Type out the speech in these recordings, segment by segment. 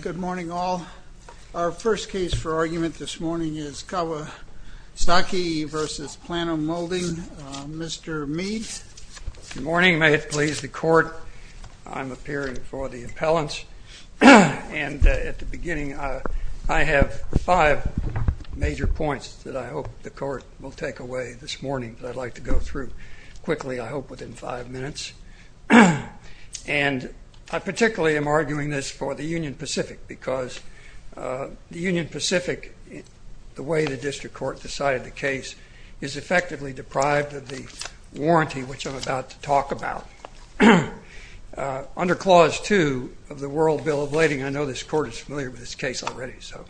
Good morning all. Our first case for argument this morning is Kawasaki v. Plano Molding. Mr. Mead. Good morning. May it please the Court, I'm appearing for the appellants. And at the beginning, I have five major points that I hope the Court will take away this morning, that I'd like to go through quickly, I hope within five minutes. And I particularly am arguing this for the Union Pacific because the Union Pacific, the way the district court decided the case, is effectively deprived of the warranty, which I'm about to talk about. Under Clause 2 of the World Bill of Lading, I know this Court is familiar with this case already, so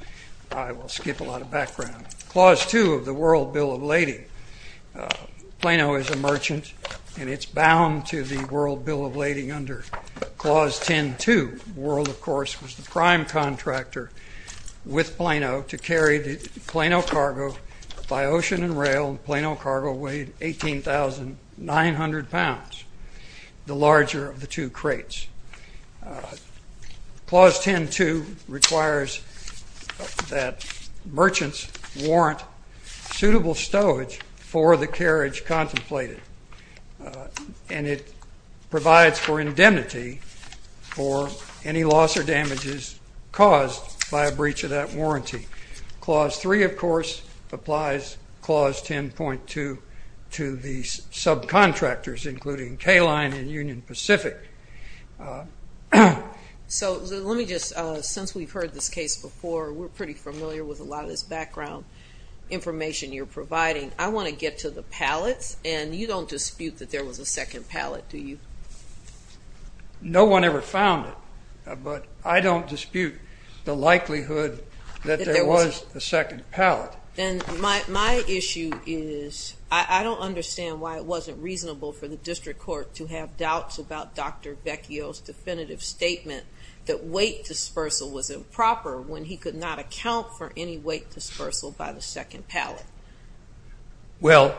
I will skip a lot of background. Clause 2 of the World Bill of Lading, Plano is a merchant and it's bound to the World Bill of Lading under Clause 10.2. World, of course, was the prime contractor with Plano to carry the Plano cargo by ocean and rail. Plano cargo weighed 18,900 pounds, the larger of the two crates. Clause 10.2 requires that merchants warrant suitable stowage for the carriage contemplated. And it provides for indemnity for any loss or damages caused by a breach of that warranty. Clause 3, of course, applies Clause 10.2 to the subcontractors including K-Line and Union Pacific. So let me just, since we've heard this case before, we're pretty familiar with a lot of this background information you're providing. I want to get to the pallets, and you don't dispute that there was a second pallet, do you? No one ever found it, but I don't dispute the likelihood that there was a second pallet. Then my issue is I don't understand why it wasn't reasonable for the district court to have doubts about Dr. Vecchio's definitive statement that weight dispersal was improper when he could not account for any weight dispersal by the second pallet. Well,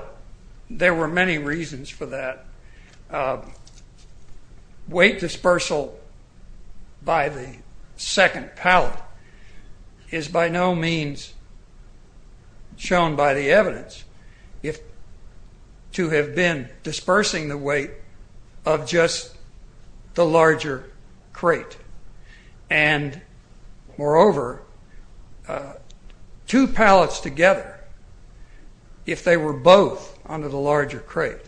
there were many reasons for that. Weight dispersal by the second pallet is by no means shown by the evidence to have been dispersing the weight of just the larger crate. And moreover, two pallets together, if they were both under the larger crate,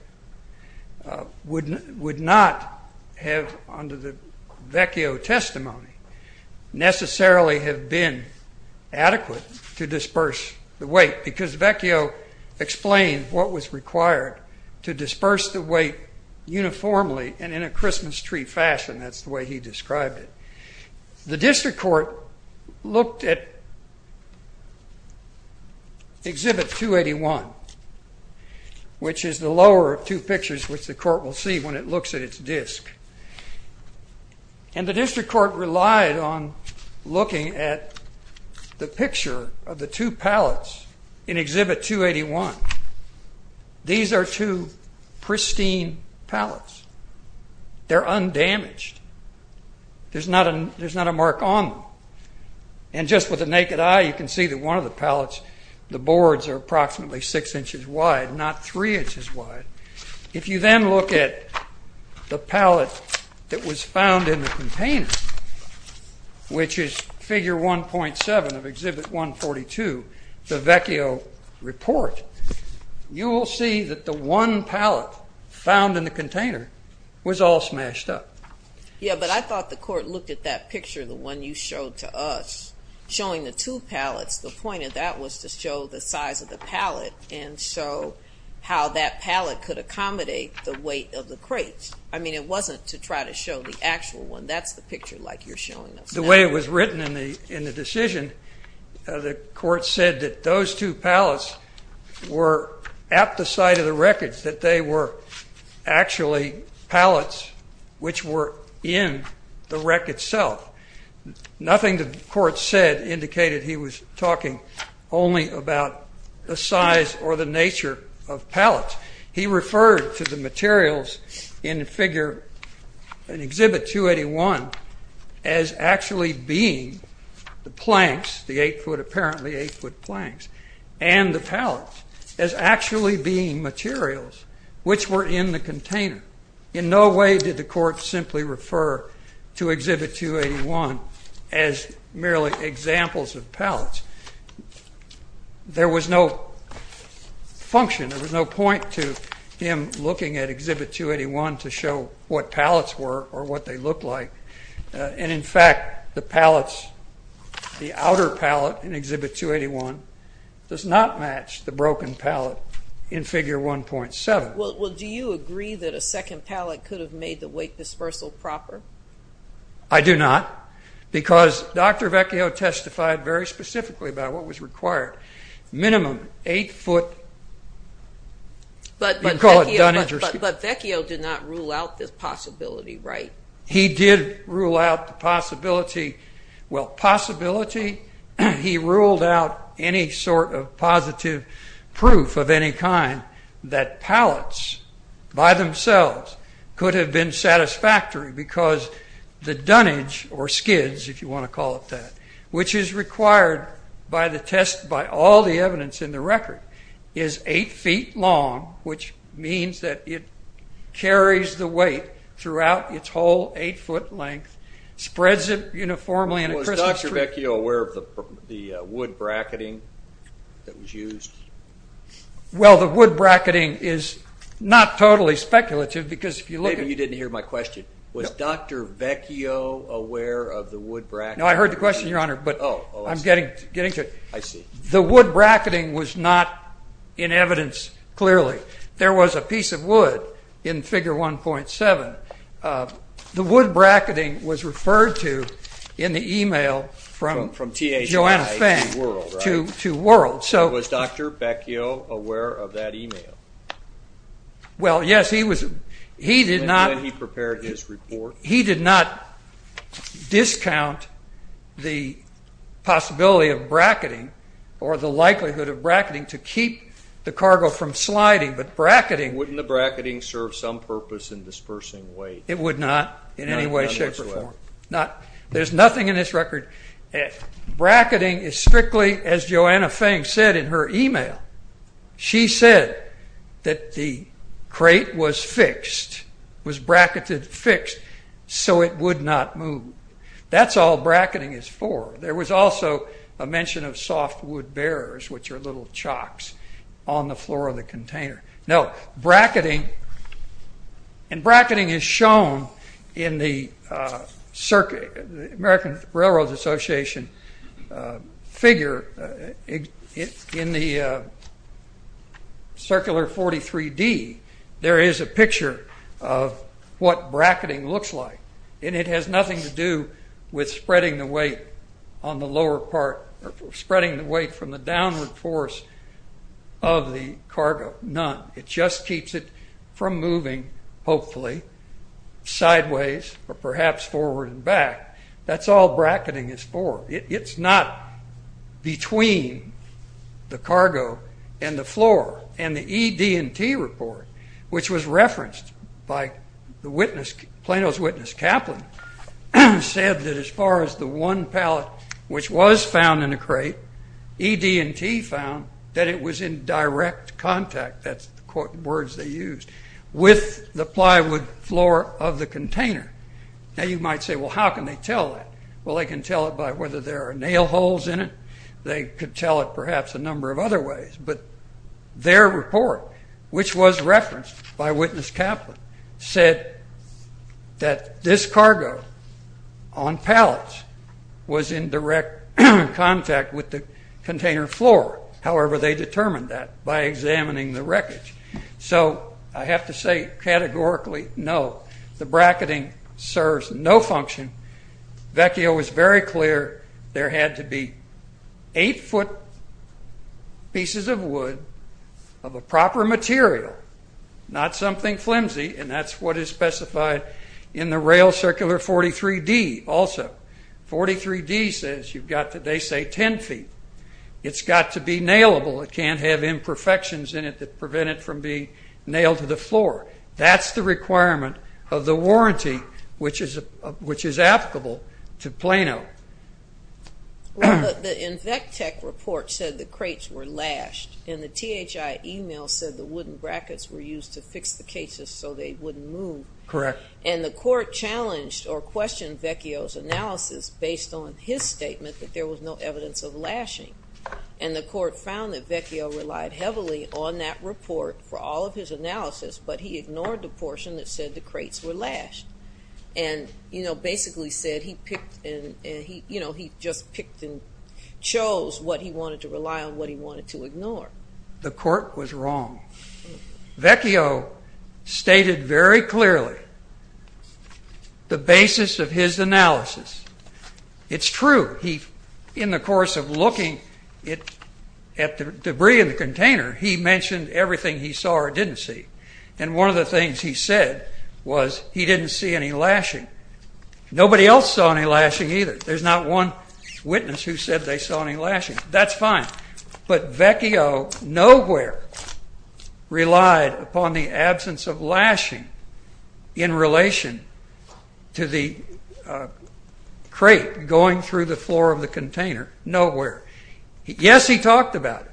would not have, under the Vecchio testimony, necessarily have been adequate to disperse the weight because Vecchio explained what was required to disperse the weight uniformly and in a Christmas tree fashion, that's the way he described it. The district court looked at Exhibit 281, which is the lower of two pictures which the court will see when it looks at its disk. And the district court relied on looking at the picture of the two pallets in Exhibit 281. These are two pristine pallets. They're undamaged. There's not a mark on them. And just with the naked eye, you can see that one of the pallets, the boards are approximately six inches wide, not three inches wide. If you then look at the pallet that was found in the container, which is Figure 1.7 of Exhibit 142, the Vecchio report, you will see that the one pallet found in the container was all smashed up. Yeah, but I thought the court looked at that picture, the one you showed to us, showing the two pallets. The point of that was to show the size of the pallet and show how that pallet could accommodate the weight of the crates. I mean, it wasn't to try to show the actual one. That's the picture like you're showing us now. The way it was written in the decision, the court said that those two pallets were at the site of the wreckage, that they were actually pallets which were in the wreck itself. Nothing the court said indicated he was talking only about the size or the nature of pallets. He referred to the materials in the figure in Exhibit 281 as actually being the planks, the eight-foot, apparently eight-foot planks, and the pallets as actually being materials which were in the container. In no way did the court simply refer to Exhibit 281 as merely examples of pallets. There was no function. There was no point to him looking at Exhibit 281 to show what pallets were or what they looked like. And, in fact, the pallets, the outer pallet in Exhibit 281 does not match the broken pallet in Figure 1.7. Well, do you agree that a second pallet could have made the weight dispersal proper? I do not, because Dr. Vecchio testified very specifically about what was required. Minimum eight-foot, you can call it dunningers. But Vecchio did not rule out this possibility, right? He did rule out the possibility. Well, possibility, he ruled out any sort of positive proof of any kind that pallets, by themselves, could have been satisfactory because the dunnage or skids, if you want to call it that, which is required by the test, by all the evidence in the record, is eight feet long, which means that it carries the weight throughout its whole eight-foot length, spreads it uniformly in a crystal strip. Was Dr. Vecchio aware of the wood bracketing that was used? Well, the wood bracketing is not totally speculative because if you look at it... Maybe you didn't hear my question. Was Dr. Vecchio aware of the wood bracketing? No, I heard the question, Your Honor, but I'm getting to it. I see. The wood bracketing was not in evidence clearly. There was a piece of wood in Figure 1.7. The wood bracketing was referred to in the e-mail from Joanna Fang to World. Was Dr. Vecchio aware of that e-mail? Well, yes, he was. He did not... And then he prepared his report. He did not discount the possibility of bracketing or the likelihood of bracketing to keep the cargo from sliding. But bracketing... Wouldn't the bracketing serve some purpose in dispersing weight? It would not in any way, shape, or form. None whatsoever. There's nothing in this record. Bracketing is strictly, as Joanna Fang said in her e-mail, she said that the crate was fixed, was bracketed fixed, so it would not move. That's all bracketing is for. There was also a mention of softwood bearers, which are little chocks on the floor of the container. No, bracketing... And bracketing is shown in the American Railroad Association figure in the Circular 43D. There is a picture of what bracketing looks like, and it has nothing to do with spreading the weight on the lower part or spreading the weight from the downward force of the cargo. None. It just keeps it from moving, hopefully, sideways or perhaps forward and back. That's all bracketing is for. It's not between the cargo and the floor. And the ED&T report, which was referenced by Plano's witness Kaplan, said that as far as the one pallet which was found in the crate, ED&T found that it was in direct contact, that's the words they used, with the plywood floor of the container. Now you might say, well, how can they tell that? Well, they can tell it by whether there are nail holes in it. They could tell it perhaps a number of other ways. But their report, which was referenced by witness Kaplan, said that this cargo on pallets was in direct contact with the container floor. However, they determined that by examining the wreckage. So I have to say categorically, no, the bracketing serves no function. Vecchio was very clear there had to be eight-foot pieces of wood of a proper material, not something flimsy, and that's what is specified in the rail circular 43D also. 43D says you've got to, they say, ten feet. It's got to be nailable. It can't have imperfections in it that prevent it from being nailed to the floor. That's the requirement of the warranty, which is applicable to Plano. In Vectech report said the crates were lashed, and the THI email said the wooden brackets were used to fix the cases so they wouldn't move. Correct. And the court challenged or questioned Vecchio's analysis based on his statement that there was no evidence of lashing. And the court found that Vecchio relied heavily on that report for all of his analysis, but he ignored the portion that said the crates were lashed and, you know, basically said he picked and, you know, he just picked and chose what he wanted to rely on, what he wanted to ignore. The court was wrong. Vecchio stated very clearly the basis of his analysis. It's true. In the course of looking at the debris in the container, he mentioned everything he saw or didn't see. And one of the things he said was he didn't see any lashing. Nobody else saw any lashing either. There's not one witness who said they saw any lashing. That's fine. But Vecchio nowhere relied upon the absence of lashing in relation to the crate going through the floor of the container. Nowhere. Yes, he talked about it.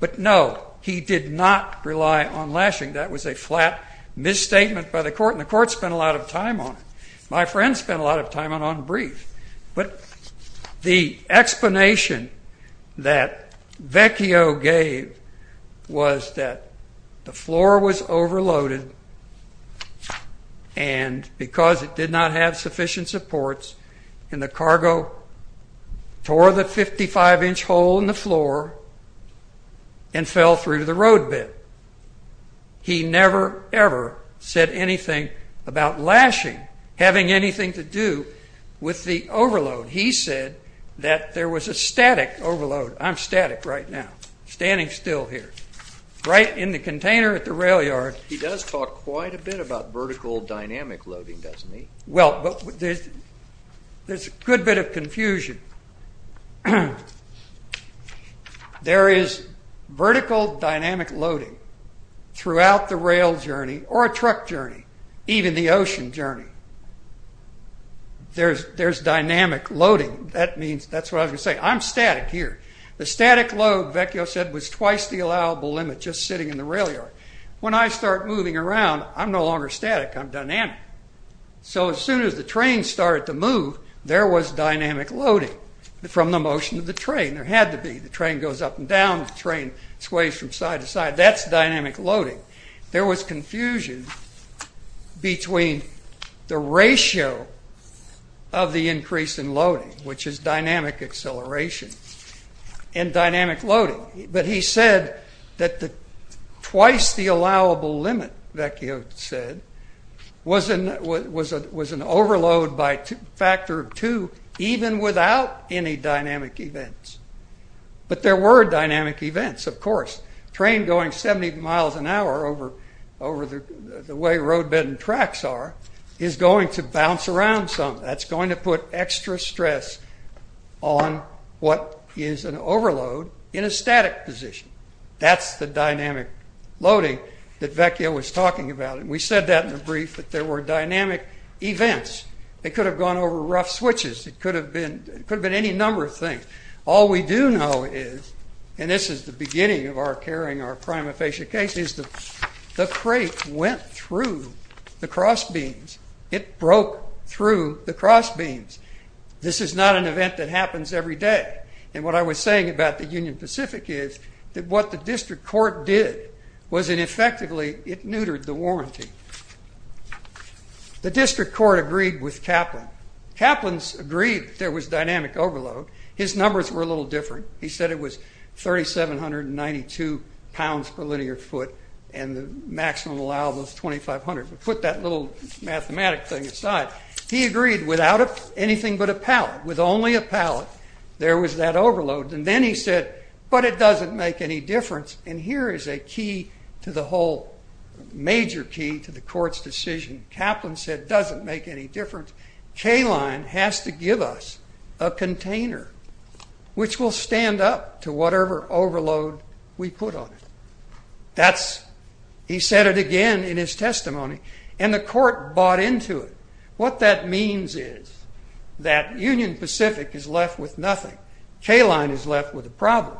But, no, he did not rely on lashing. That was a flat misstatement by the court, and the court spent a lot of time on it. My friend spent a lot of time on it on brief. But the explanation that Vecchio gave was that the floor was overloaded, and because it did not have sufficient supports, and the cargo tore the 55-inch hole in the floor and fell through the road bed. He never, ever said anything about lashing having anything to do with the overload. He said that there was a static overload. I'm static right now, standing still here. Right in the container at the rail yard. He does talk quite a bit about vertical dynamic loading, doesn't he? Well, there's a good bit of confusion. There is vertical dynamic loading throughout the rail journey or a truck journey, even the ocean journey. There's dynamic loading. That's what I was going to say. I'm static here. The static load, Vecchio said, was twice the allowable limit, just sitting in the rail yard. When I start moving around, I'm no longer static. I'm dynamic. So as soon as the train started to move, there was dynamic loading from the motion of the train. There had to be. The train goes up and down. The train sways from side to side. That's dynamic loading. There was confusion between the ratio of the increase in loading, which is dynamic acceleration, and dynamic loading. But he said that twice the allowable limit, Vecchio said, was an overload by a factor of two, even without any dynamic events. But there were dynamic events, of course. A train going 70 miles an hour over the way roadbed and tracks are is going to bounce around some. That's going to put extra stress on what is an overload in a static position. That's the dynamic loading that Vecchio was talking about. We said that in the brief, that there were dynamic events. It could have gone over rough switches. It could have been any number of things. All we do know is, and this is the beginning of our carrying our prima facie case, is the crate went through the cross beams. It broke through the cross beams. This is not an event that happens every day. And what I was saying about the Union Pacific is that what the district court did was it effectively neutered the warranty. The district court agreed with Kaplan. Kaplan's agreed there was dynamic overload. His numbers were a little different. He said it was 3,792 pounds per linear foot and the maximum allowable is 2,500. We put that little mathematic thing aside. He agreed without anything but a pallet, with only a pallet, there was that overload. And then he said, but it doesn't make any difference. And here is a key to the whole major key to the court's decision. Kaplan said it doesn't make any difference. K-Line has to give us a container which will stand up to whatever overload we put on it. He said it again in his testimony. And the court bought into it. What that means is that Union Pacific is left with nothing. K-Line is left with a problem.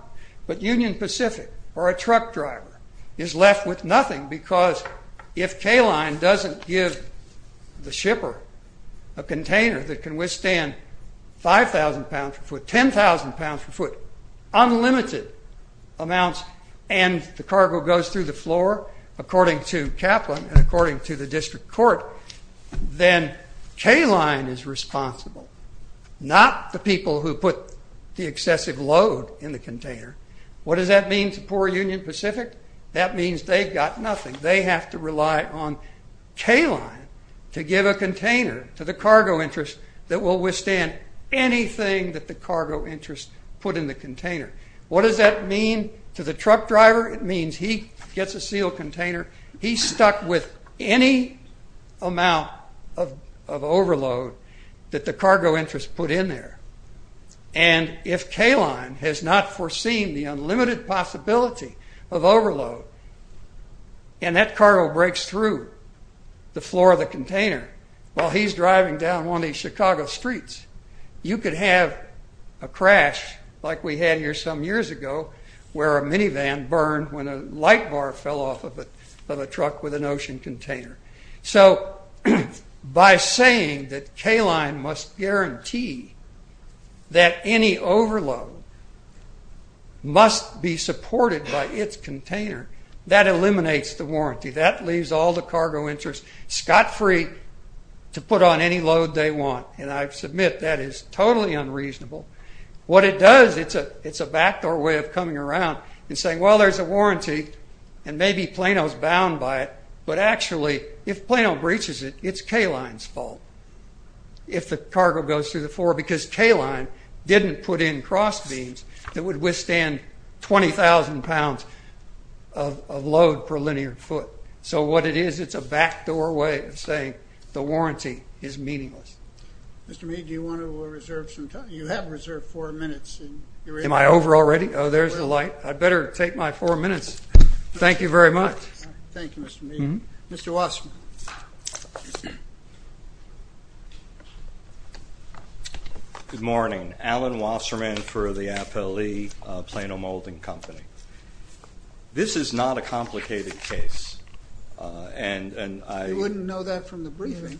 But Union Pacific or a truck driver is left with nothing because if K-Line doesn't give the shipper a container that can withstand 5,000 pounds per according to Kaplan and according to the district court, then K-Line is responsible, not the people who put the excessive load in the container. What does that mean to poor Union Pacific? That means they've got nothing. They have to rely on K-Line to give a container to the cargo interest that will withstand anything that the cargo interest put in the container. What does that mean to the truck driver? It means he gets a sealed container. He's stuck with any amount of overload that the cargo interest put in there. And if K-Line has not foreseen the unlimited possibility of overload and that cargo breaks through the floor of the container while he's driving down one of these Chicago streets, you could have a crash like we had here some when a light bar fell off of a truck with an ocean container. So by saying that K-Line must guarantee that any overload must be supported by its container, that eliminates the warranty. That leaves all the cargo interest scot-free to put on any load they want. And I submit that is totally unreasonable. What it does, it's a backdoor way of coming around and saying, well, there's a warranty and maybe Plano's bound by it, but actually if Plano breaches it, it's K-Line's fault if the cargo goes through the floor because K-Line didn't put in cross beams that would withstand 20,000 pounds of load per linear foot. So what it is, it's a backdoor way of saying the warranty is meaningless. Mr. Mead, do you want to reserve some time? You have reserved four minutes. Am I over already? Oh, there's the light. I'd better take my four minutes. Thank you very much. Thank you, Mr. Mead. Mr. Wasserman. Good morning. Alan Wasserman for the Apelli Plano Molding Company. This is not a complicated case. You wouldn't know that from the briefing.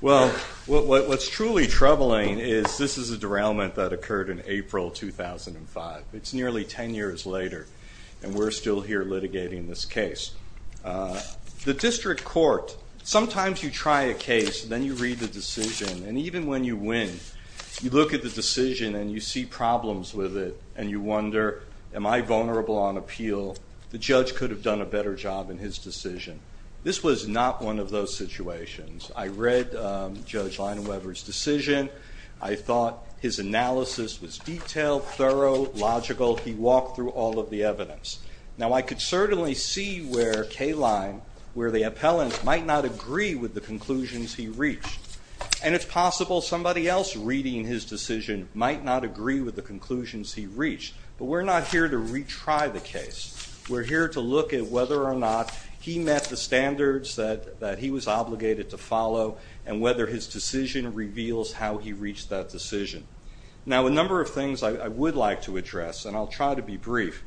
Well, what's truly troubling is this is a derailment that occurred in April 2005. It's nearly ten years later, and we're still here litigating this case. The district court, sometimes you try a case, then you read the decision, and even when you win, you look at the decision and you see problems with it, and you wonder, am I vulnerable on appeal? The judge could have done a better job in his decision. This was not one of those situations. I read Judge Leinweber's decision. I thought his analysis was detailed, thorough, logical. He walked through all of the evidence. Now, I could certainly see where Kline, where the appellant, might not agree with the conclusions he reached, and it's possible somebody else reading his decision might not agree with the conclusions he reached, but we're not here to retry the case. We're here to look at whether or not he met the standards that he was obligated to follow, and whether his decision reveals how he reached that decision. Now, a number of things I would like to address, and I'll try to be brief.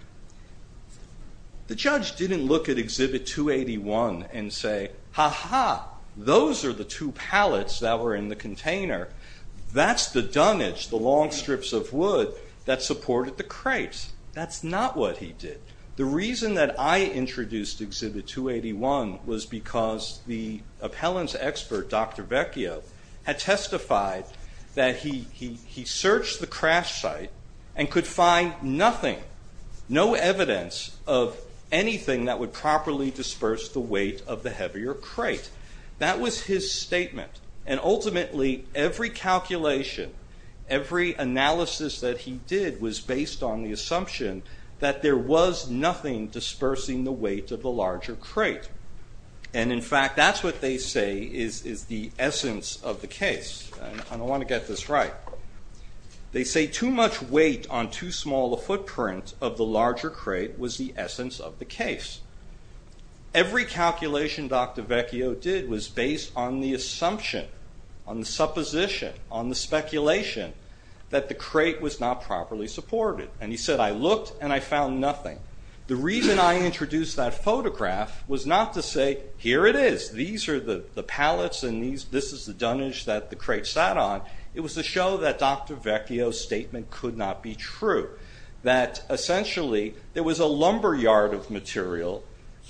The judge didn't look at Exhibit 281 and say, ha-ha, those are the two pallets that were in the container. That's the dunnage, the long strips of wood that supported the crate. That's not what he did. The reason that I introduced Exhibit 281 was because the appellant's expert, Dr. Vecchio, had testified that he searched the crash site and could find nothing, no evidence of anything that would properly disperse the weight of the heavier crate. That was his statement, and ultimately every calculation, every analysis that he did was based on the assumption that there was nothing dispersing the weight of the larger crate. And, in fact, that's what they say is the essence of the case. And I want to get this right. They say too much weight on too small a footprint of the larger crate was the essence of the case. Every calculation Dr. Vecchio did was based on the assumption, on the supposition, on the speculation that the crate was not properly supported. And he said, I looked and I found nothing. The reason I introduced that photograph was not to say, here it is, these are the pallets and this is the dunnage that the crate sat on. It was to show that Dr. Vecchio's statement could not be true, that essentially there was a lumberyard of material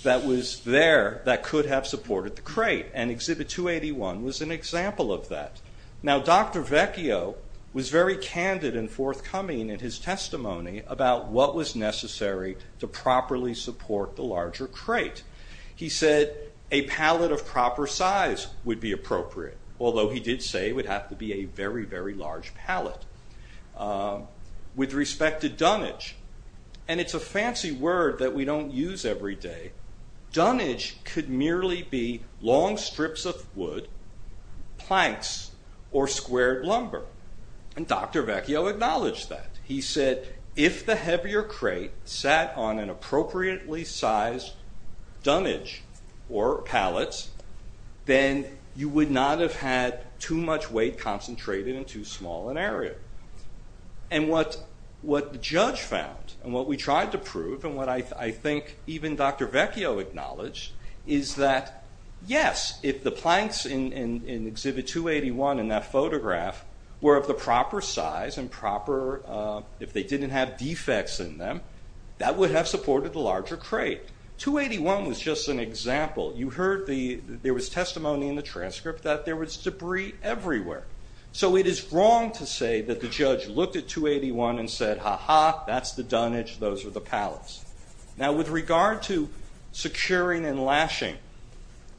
that was there that could have supported the crate, and Exhibit 281 was an example of that. Now Dr. Vecchio was very candid and forthcoming in his testimony about what was necessary to properly support the larger crate. He said a pallet of proper size would be appropriate, although he did say it would have to be a very, very large pallet. With respect to dunnage, and it's a fancy word that we don't use every day, dunnage could merely be long strips of wood, planks, or squared lumber. And Dr. Vecchio acknowledged that. He said if the heavier crate sat on an appropriately sized dunnage or pallets, then you would not have had too much weight concentrated in too small an area. And what the judge found, and what we tried to prove, and what I think even Dr. Vecchio acknowledged, is that yes, if the planks in Exhibit 281 in that photograph were of the proper size and proper, if they didn't have defects in them, that would have supported the larger crate. 281 was just an example. You heard there was testimony in the transcript that there was debris everywhere. So it is wrong to say that the judge looked at 281 and said, ha-ha, that's the dunnage, those are the pallets. Now with regard to securing and lashing,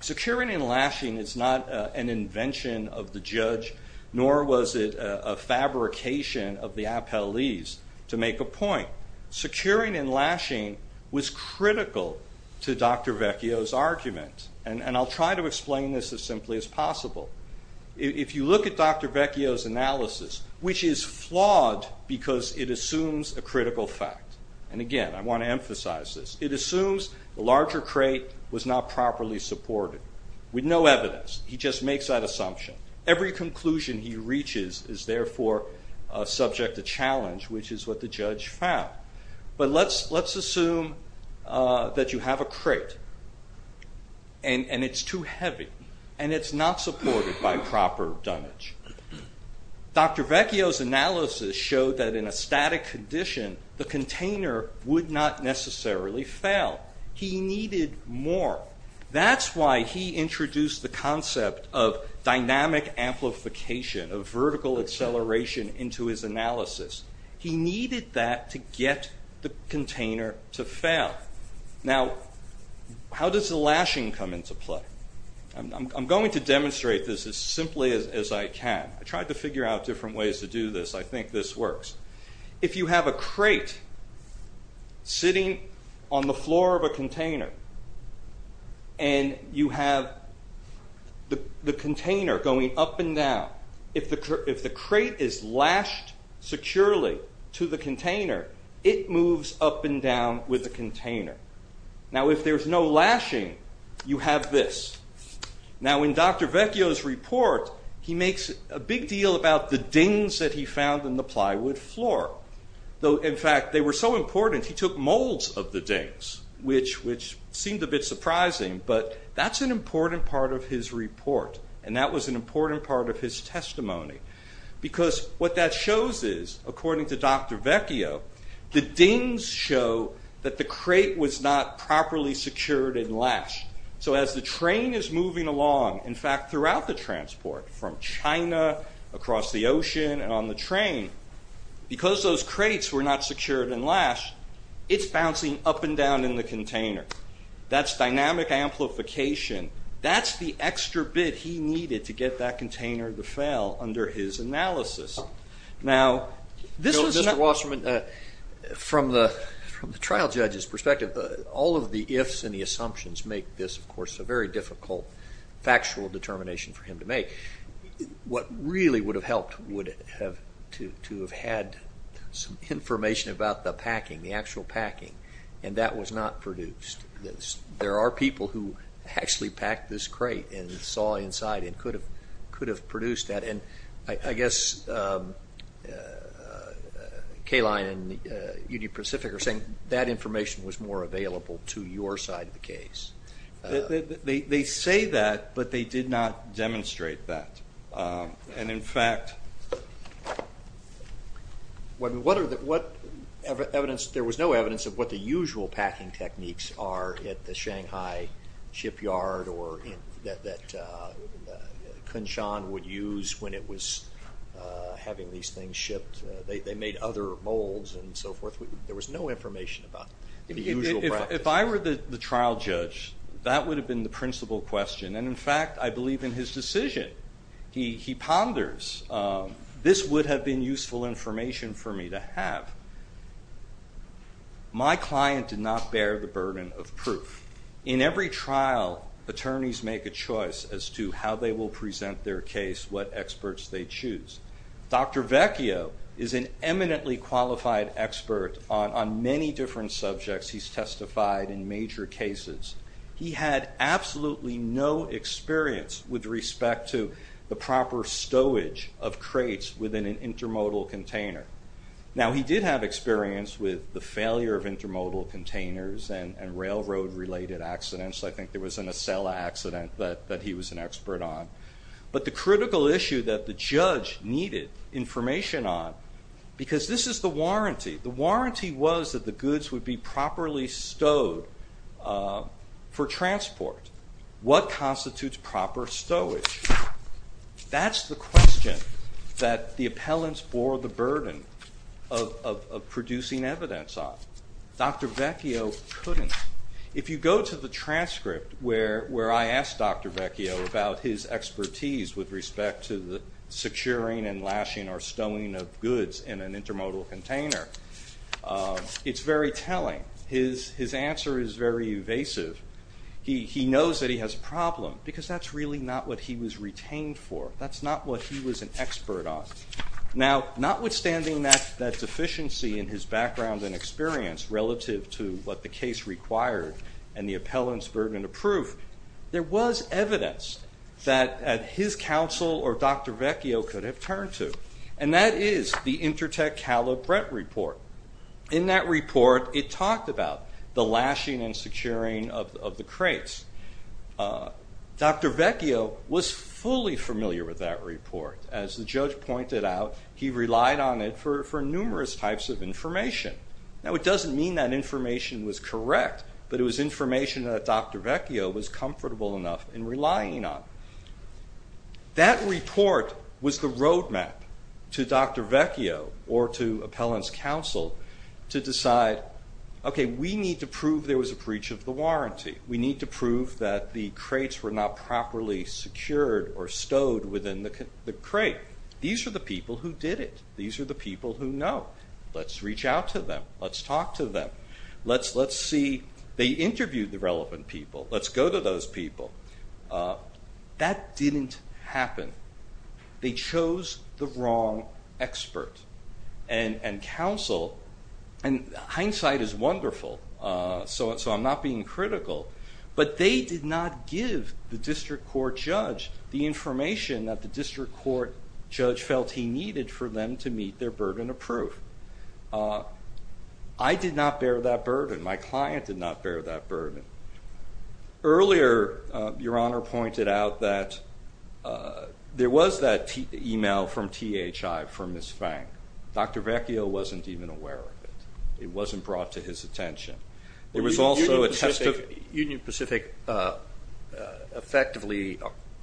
securing and lashing is not an invention of the judge, nor was it a fabrication of the appellees, to make a point. Securing and lashing was critical to Dr. Vecchio's argument, and I'll try to explain this as simply as possible. If you look at Dr. Vecchio's analysis, which is flawed because it assumes a critical fact, and again, I want to emphasize this. It assumes the larger crate was not properly supported, with no evidence. He just makes that assumption. Every conclusion he reaches is therefore subject to challenge, which is what the judge found. But let's assume that you have a crate, and it's too heavy, and it's not supported by proper dunnage. Dr. Vecchio's analysis showed that in a static condition, the container would not necessarily fail. He needed more. That's why he introduced the concept of dynamic amplification, of vertical acceleration into his analysis. He needed that to get the container to fail. Now, how does the lashing come into play? I'm going to demonstrate this as simply as I can. I tried to figure out different ways to do this. I think this works. If you have a crate sitting on the floor of a container, and you have the container going up and down, if the crate is lashed securely to the container, it moves up and down with the container. Now, if there's no lashing, you have this. Now, in Dr. Vecchio's report, he makes a big deal about the dings that he found in the plywood floor. In fact, they were so important, he took molds of the dings, which seemed a bit surprising, but that's an important part of his report, and that was an important part of his testimony, because what that shows is, according to Dr. Vecchio, the dings show that the crate was not properly secured and lashed. So as the train is moving along, in fact, throughout the transport, from China across the ocean and on the train, because those crates were not secured and lashed, it's bouncing up and down in the container. That's dynamic amplification. That's the extra bit he needed to get that container to fail under his analysis. Now, Mr. Wasserman, from the trial judge's perspective, all of the ifs and the assumptions make this, of course, a very difficult factual determination for him to make. What really would have helped would have to have had some information about the packing, the actual packing, and that was not produced. There are people who actually packed this crate and saw inside and could have produced that, and I guess Kayline and UD Pacific are saying that information was more available to your side of the case. They say that, but they did not demonstrate that. And, in fact, what evidence? There was no evidence of what the usual packing techniques are at the Shanghai shipyard or that Kunshan would use when it was having these things shipped. They made other molds and so forth. There was no information about the usual practice. If I were the trial judge, that would have been the principal question, and, in fact, I believe in his decision. He ponders, this would have been useful information for me to have. My client did not bear the burden of proof. In every trial, attorneys make a choice as to how they will present their case, what experts they choose. Dr. Vecchio is an eminently qualified expert on many different subjects he's testified in major cases. He had absolutely no experience with respect to the proper stowage of crates within an intermodal container. Now, he did have experience with the failure of intermodal containers and railroad-related accidents. I think there was an Acela accident that he was an expert on. But the critical issue that the judge needed information on, because this is the warranty. The warranty was that the goods would be properly stowed for transport. What constitutes proper stowage? That's the question that the appellants bore the burden of producing evidence on. Dr. Vecchio couldn't. If you go to the transcript where I ask Dr. Vecchio about his expertise with respect to the securing and lashing or stowing of goods in an intermodal container, it's very telling. His answer is very evasive. He knows that he has a problem, because that's really not what he was retained for. That's not what he was an expert on. Now, notwithstanding that deficiency in his background and experience relative to what the case required and the appellants' burden of proof, there was evidence that his counsel or Dr. Vecchio could have turned to, and that is the Intertech Calibret report. In that report, it talked about the lashing and securing of the crates. Dr. Vecchio was fully familiar with that report. As the judge pointed out, he relied on it for numerous types of information. Now, it doesn't mean that information was correct, but it was information that Dr. Vecchio was comfortable enough in relying on. That report was the roadmap to Dr. Vecchio or to appellants' counsel to decide, okay, we need to prove there was a breach of the warranty. We need to prove that the crates were not properly secured or stowed within the crate. These are the people who did it. These are the people who know. Let's reach out to them. Let's talk to them. Let's see... They interviewed the relevant people. Let's go to those people. That didn't happen. They chose the wrong expert. And counsel... And hindsight is wonderful, so I'm not being critical. But they did not give the district court judge the information that the district court judge felt he needed for them to meet their burden of proof. I did not bear that burden. My client did not bear that burden. Earlier, Your Honor pointed out that there was that email from THI from Ms. Fang. Dr. Vecchio wasn't even aware of it. It wasn't brought to his attention. There was also a test of... Union Pacific effectively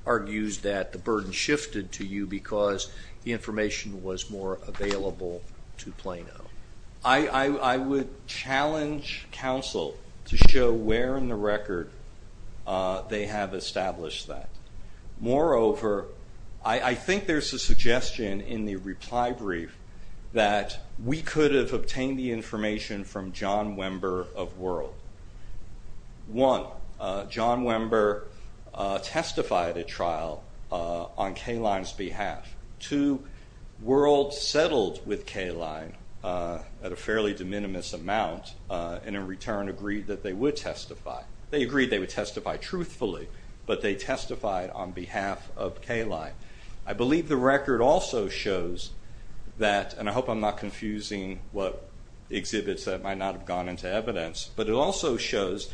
argues that the burden shifted to you because the information was more available to Plano. I would challenge counsel to show where in the record they have established that. Moreover, I think there's a suggestion in the reply brief that we could have obtained the information from John Wember of World. One, John Wember testified at trial on Kaline's behalf. Two, World settled with Kaline at a fairly de minimis amount and in return agreed that they would testify. They agreed they would testify truthfully, but they testified on behalf of Kaline. I believe the record also shows that, and I hope I'm not confusing what exhibits that might not have gone into evidence, but it also shows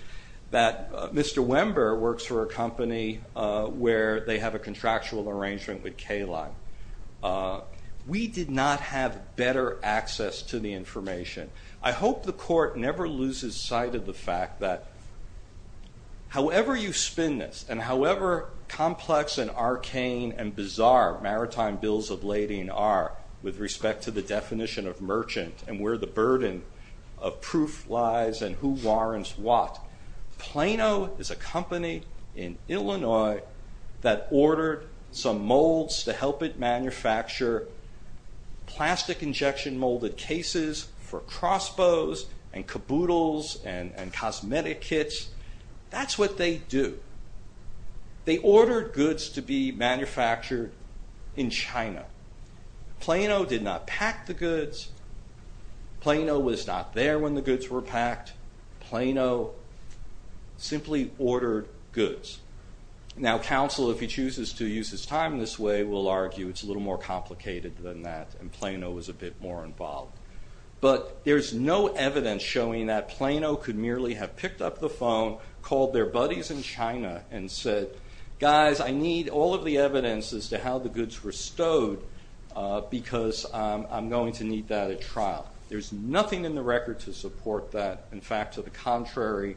that Mr. Wember works for a company where they have a contractual arrangement with Kaline. We did not have better access to the information. I hope the court never loses sight of the fact that however you spin this and however complex and arcane and bizarre maritime bills of lading are with respect to the definition of merchant and where the burden of proof lies and who warrants what, Plano is a company in Illinois that ordered some molds to help it manufacture plastic injection molded cases for crossbows and caboodles and cosmetic kits. That's what they do. They ordered goods to be manufactured in China. Plano did not pack the goods. Plano was not there when the goods were packed. Plano simply ordered goods. Now counsel, if he chooses to use his time this way, will argue it's a little more complicated than that and Plano was a bit more involved. But there's no evidence showing that Plano could merely have picked up the phone, called their buddies in China and said, guys, I need all of the evidence as to how the goods were stowed because I'm going to need that at trial. There's nothing in the record to support that. In fact, to the contrary,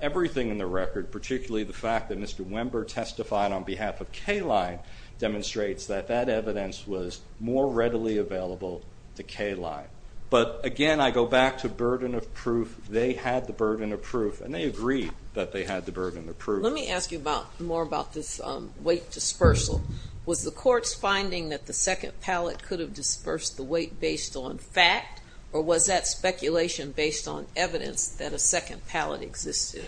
everything in the record, particularly the fact that Mr. Wember testified on behalf of Kaline demonstrates that that evidence was more readily available to Kaline. But again, I go back to burden of proof. They had the burden of proof and they agreed that they had the burden of proof. Let me ask you more about this weight dispersal. Was the court's finding that the second pallet could have dispersed the weight based on fact or was that speculation based on evidence that a second pallet existed?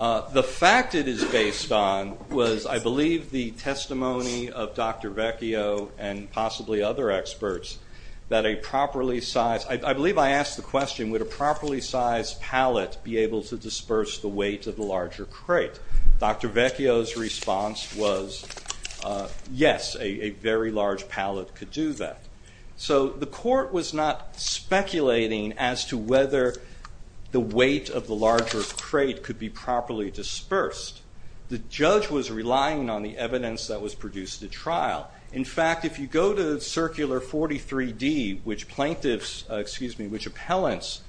The fact it is based on was, I believe, the testimony of Dr. Vecchio and possibly other experts that a properly sized, I believe I asked the question, would a properly sized pallet be able to disperse the weight of the larger crate? Dr. Vecchio's response was yes, a very large pallet could do that. So the court was not speculating as to whether the weight of the larger crate could be properly dispersed. The judge was relying on the evidence that was produced at trial. In fact, if you go to Circular 43D, which plaintiffs, excuse me, which appellants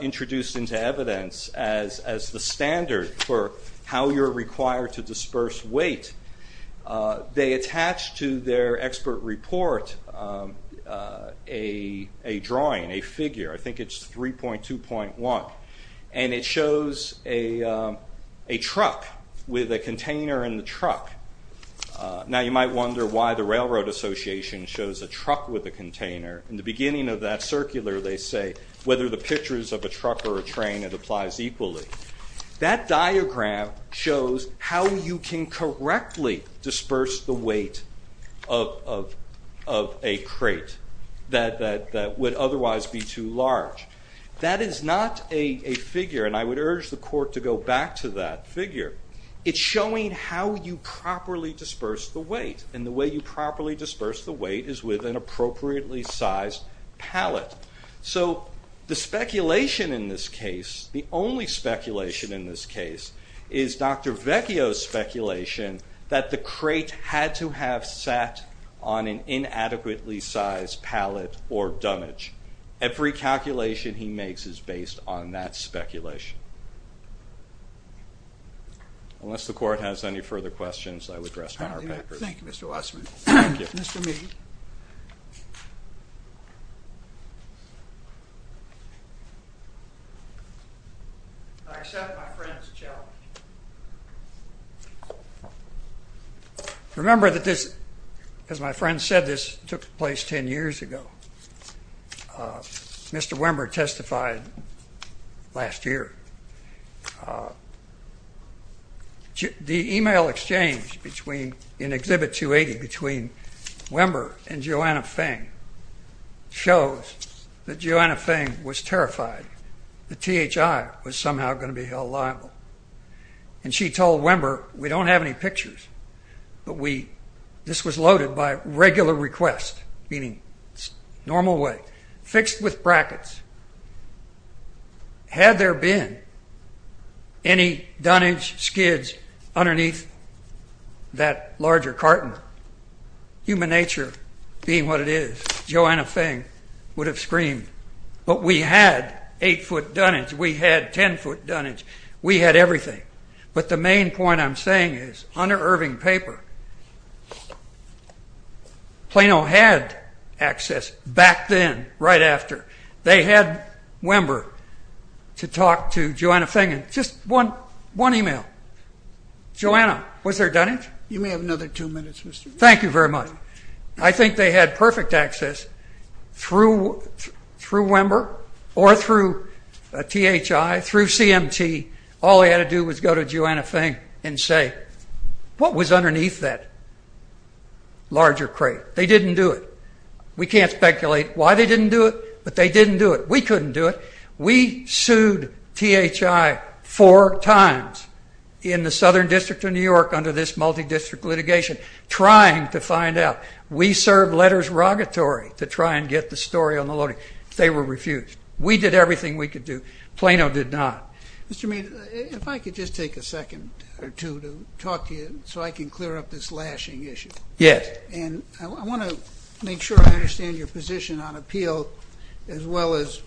introduced into evidence as the standard for how you're required to disperse weight, they attached to their expert report a drawing, a figure, I think it's 3.2.1, and it shows a truck with a container in the truck. Now you might wonder why the Railroad Association shows a truck with a container. In the beginning of that circular they say whether the pictures of a truck or a train, it applies equally. That diagram shows how you can correctly disperse the weight of a crate that would otherwise be too large. That is not a figure, and I would urge the court to go back to that figure. It's showing how you properly disperse the weight and the way you properly disperse the weight is with an appropriately sized pallet. So the speculation in this case, the only speculation in this case, is Dr. Vecchio's speculation that the crate had to have sat on an inadequately sized pallet or dummage. Every calculation he makes is based on that speculation. Unless the court has any further questions I would rest on our papers. Thank you, Mr. Wasserman. Thank you. Mr. Meehan. I accept my friend's challenge. Remember that this, as my friend said, this took place ten years ago. Mr. Wember testified last year. The email exchange in Exhibit 280 between Wember and Joanna Feng shows that Joanna Feng was terrified that THI was somehow going to be held liable. And she told Wember, we don't have any pictures, but this was loaded by regular request, meaning normal weight, fixed with brackets. Had there been any dunnage, skids, underneath that larger carton, human nature being what it is, Joanna Feng would have screamed, but we had eight-foot dunnage, we had ten-foot dunnage, we had everything. But the main point I'm saying is, under Irving's paper, Plano had access back then, right after. They had Wember to talk to Joanna Feng in just one email. Joanna, was there dunnage? You may have another two minutes, Mr. Meehan. Thank you very much. I think they had perfect access through Wember or through THI, through CMT. All they had to do was go to Joanna Feng and say, what was underneath that larger crate? They didn't do it. We can't speculate why they didn't do it, but they didn't do it. We couldn't do it. We sued THI four times in the Southern District of New York under this multi-district litigation, trying to find out. We served letters of rogatory to try and get the story on the loading. They were refused. We did everything we could do. Plano did not. Mr. Meehan, if I could just take a second or two to talk to you so I can clear up this lashing issue. Yes. I want to make sure I understand your position on appeal as well as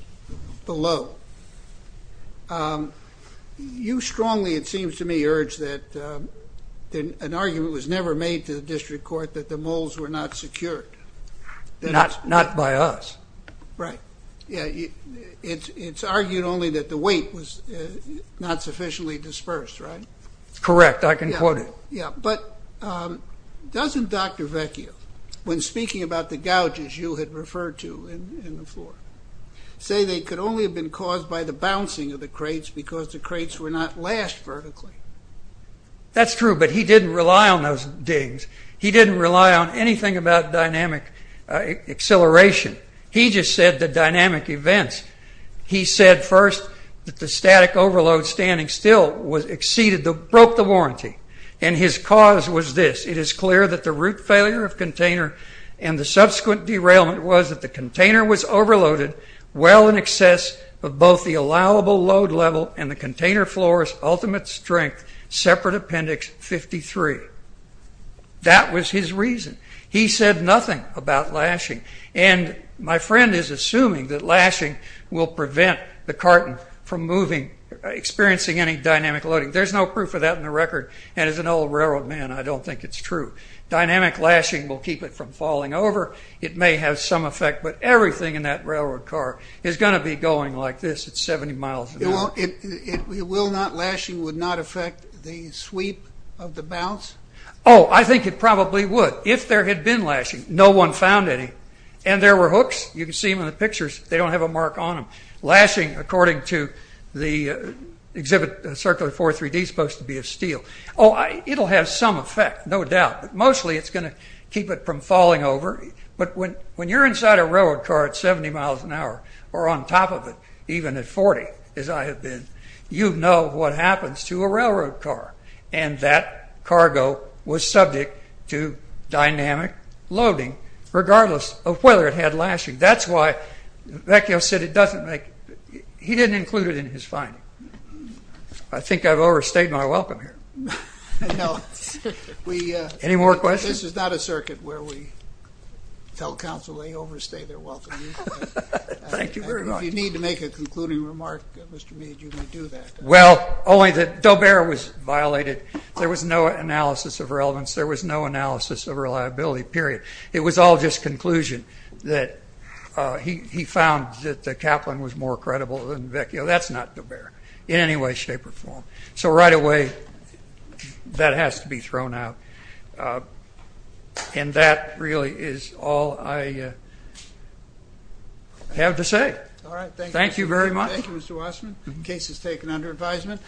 below. You strongly, it seems to me, urge that an argument was never made to the district court that the moles were not secured. Not by us. Right. It's argued only that the weight was not sufficiently dispersed, right? Correct. I can quote it. But doesn't Dr. Vecchio, when speaking about the gouges, as you had referred to in the floor, say they could only have been caused by the bouncing of the crates because the crates were not lashed vertically? That's true, but he didn't rely on those dings. He didn't rely on anything about dynamic acceleration. He just said the dynamic events. He said first that the static overload standing still was exceeded, broke the warranty. And his cause was this. It is clear that the root failure of container and the subsequent derailment was that the container was overloaded well in excess of both the allowable load level and the container floor's ultimate strength, separate appendix 53. That was his reason. He said nothing about lashing. And my friend is assuming that lashing will prevent the carton from moving, experiencing any dynamic loading. There's no proof of that in the record. And as an old railroad man, I don't think it's true. Dynamic lashing will keep it from falling over. It may have some effect, but everything in that railroad car is going to be going like this at 70 miles an hour. It will not, lashing would not affect the sweep of the bounce? Oh, I think it probably would. If there had been lashing, no one found any. And there were hooks. You can see them in the pictures. They don't have a mark on them. Lashing, according to the exhibit, Circular 43D, is supposed to be of steel. Oh, it'll have some effect, no doubt. But mostly it's going to keep it from falling over. But when you're inside a railroad car at 70 miles an hour, or on top of it, even at 40, as I have been, you know what happens to a railroad car. And that cargo was subject to dynamic loading, regardless of whether it had lashing. That's why Vecchio said it doesn't make, he didn't include it in his finding. I think I've overstayed my welcome here. Any more questions? This is not a circuit where we tell counsel they overstay their welcome. Thank you very much. If you need to make a concluding remark, Mr. Mead, you may do that. Well, only that Dober was violated. There was no analysis of relevance. There was no analysis of reliability, period. It was all just conclusion that he found that the Kaplan was more credible than Vecchio. That's not Dober, in any way, shape, or form. So right away, that has to be thrown out. And that really is all I have to say. Thank you very much. Thank you, Mr. Wasserman. Case is taken under advisement.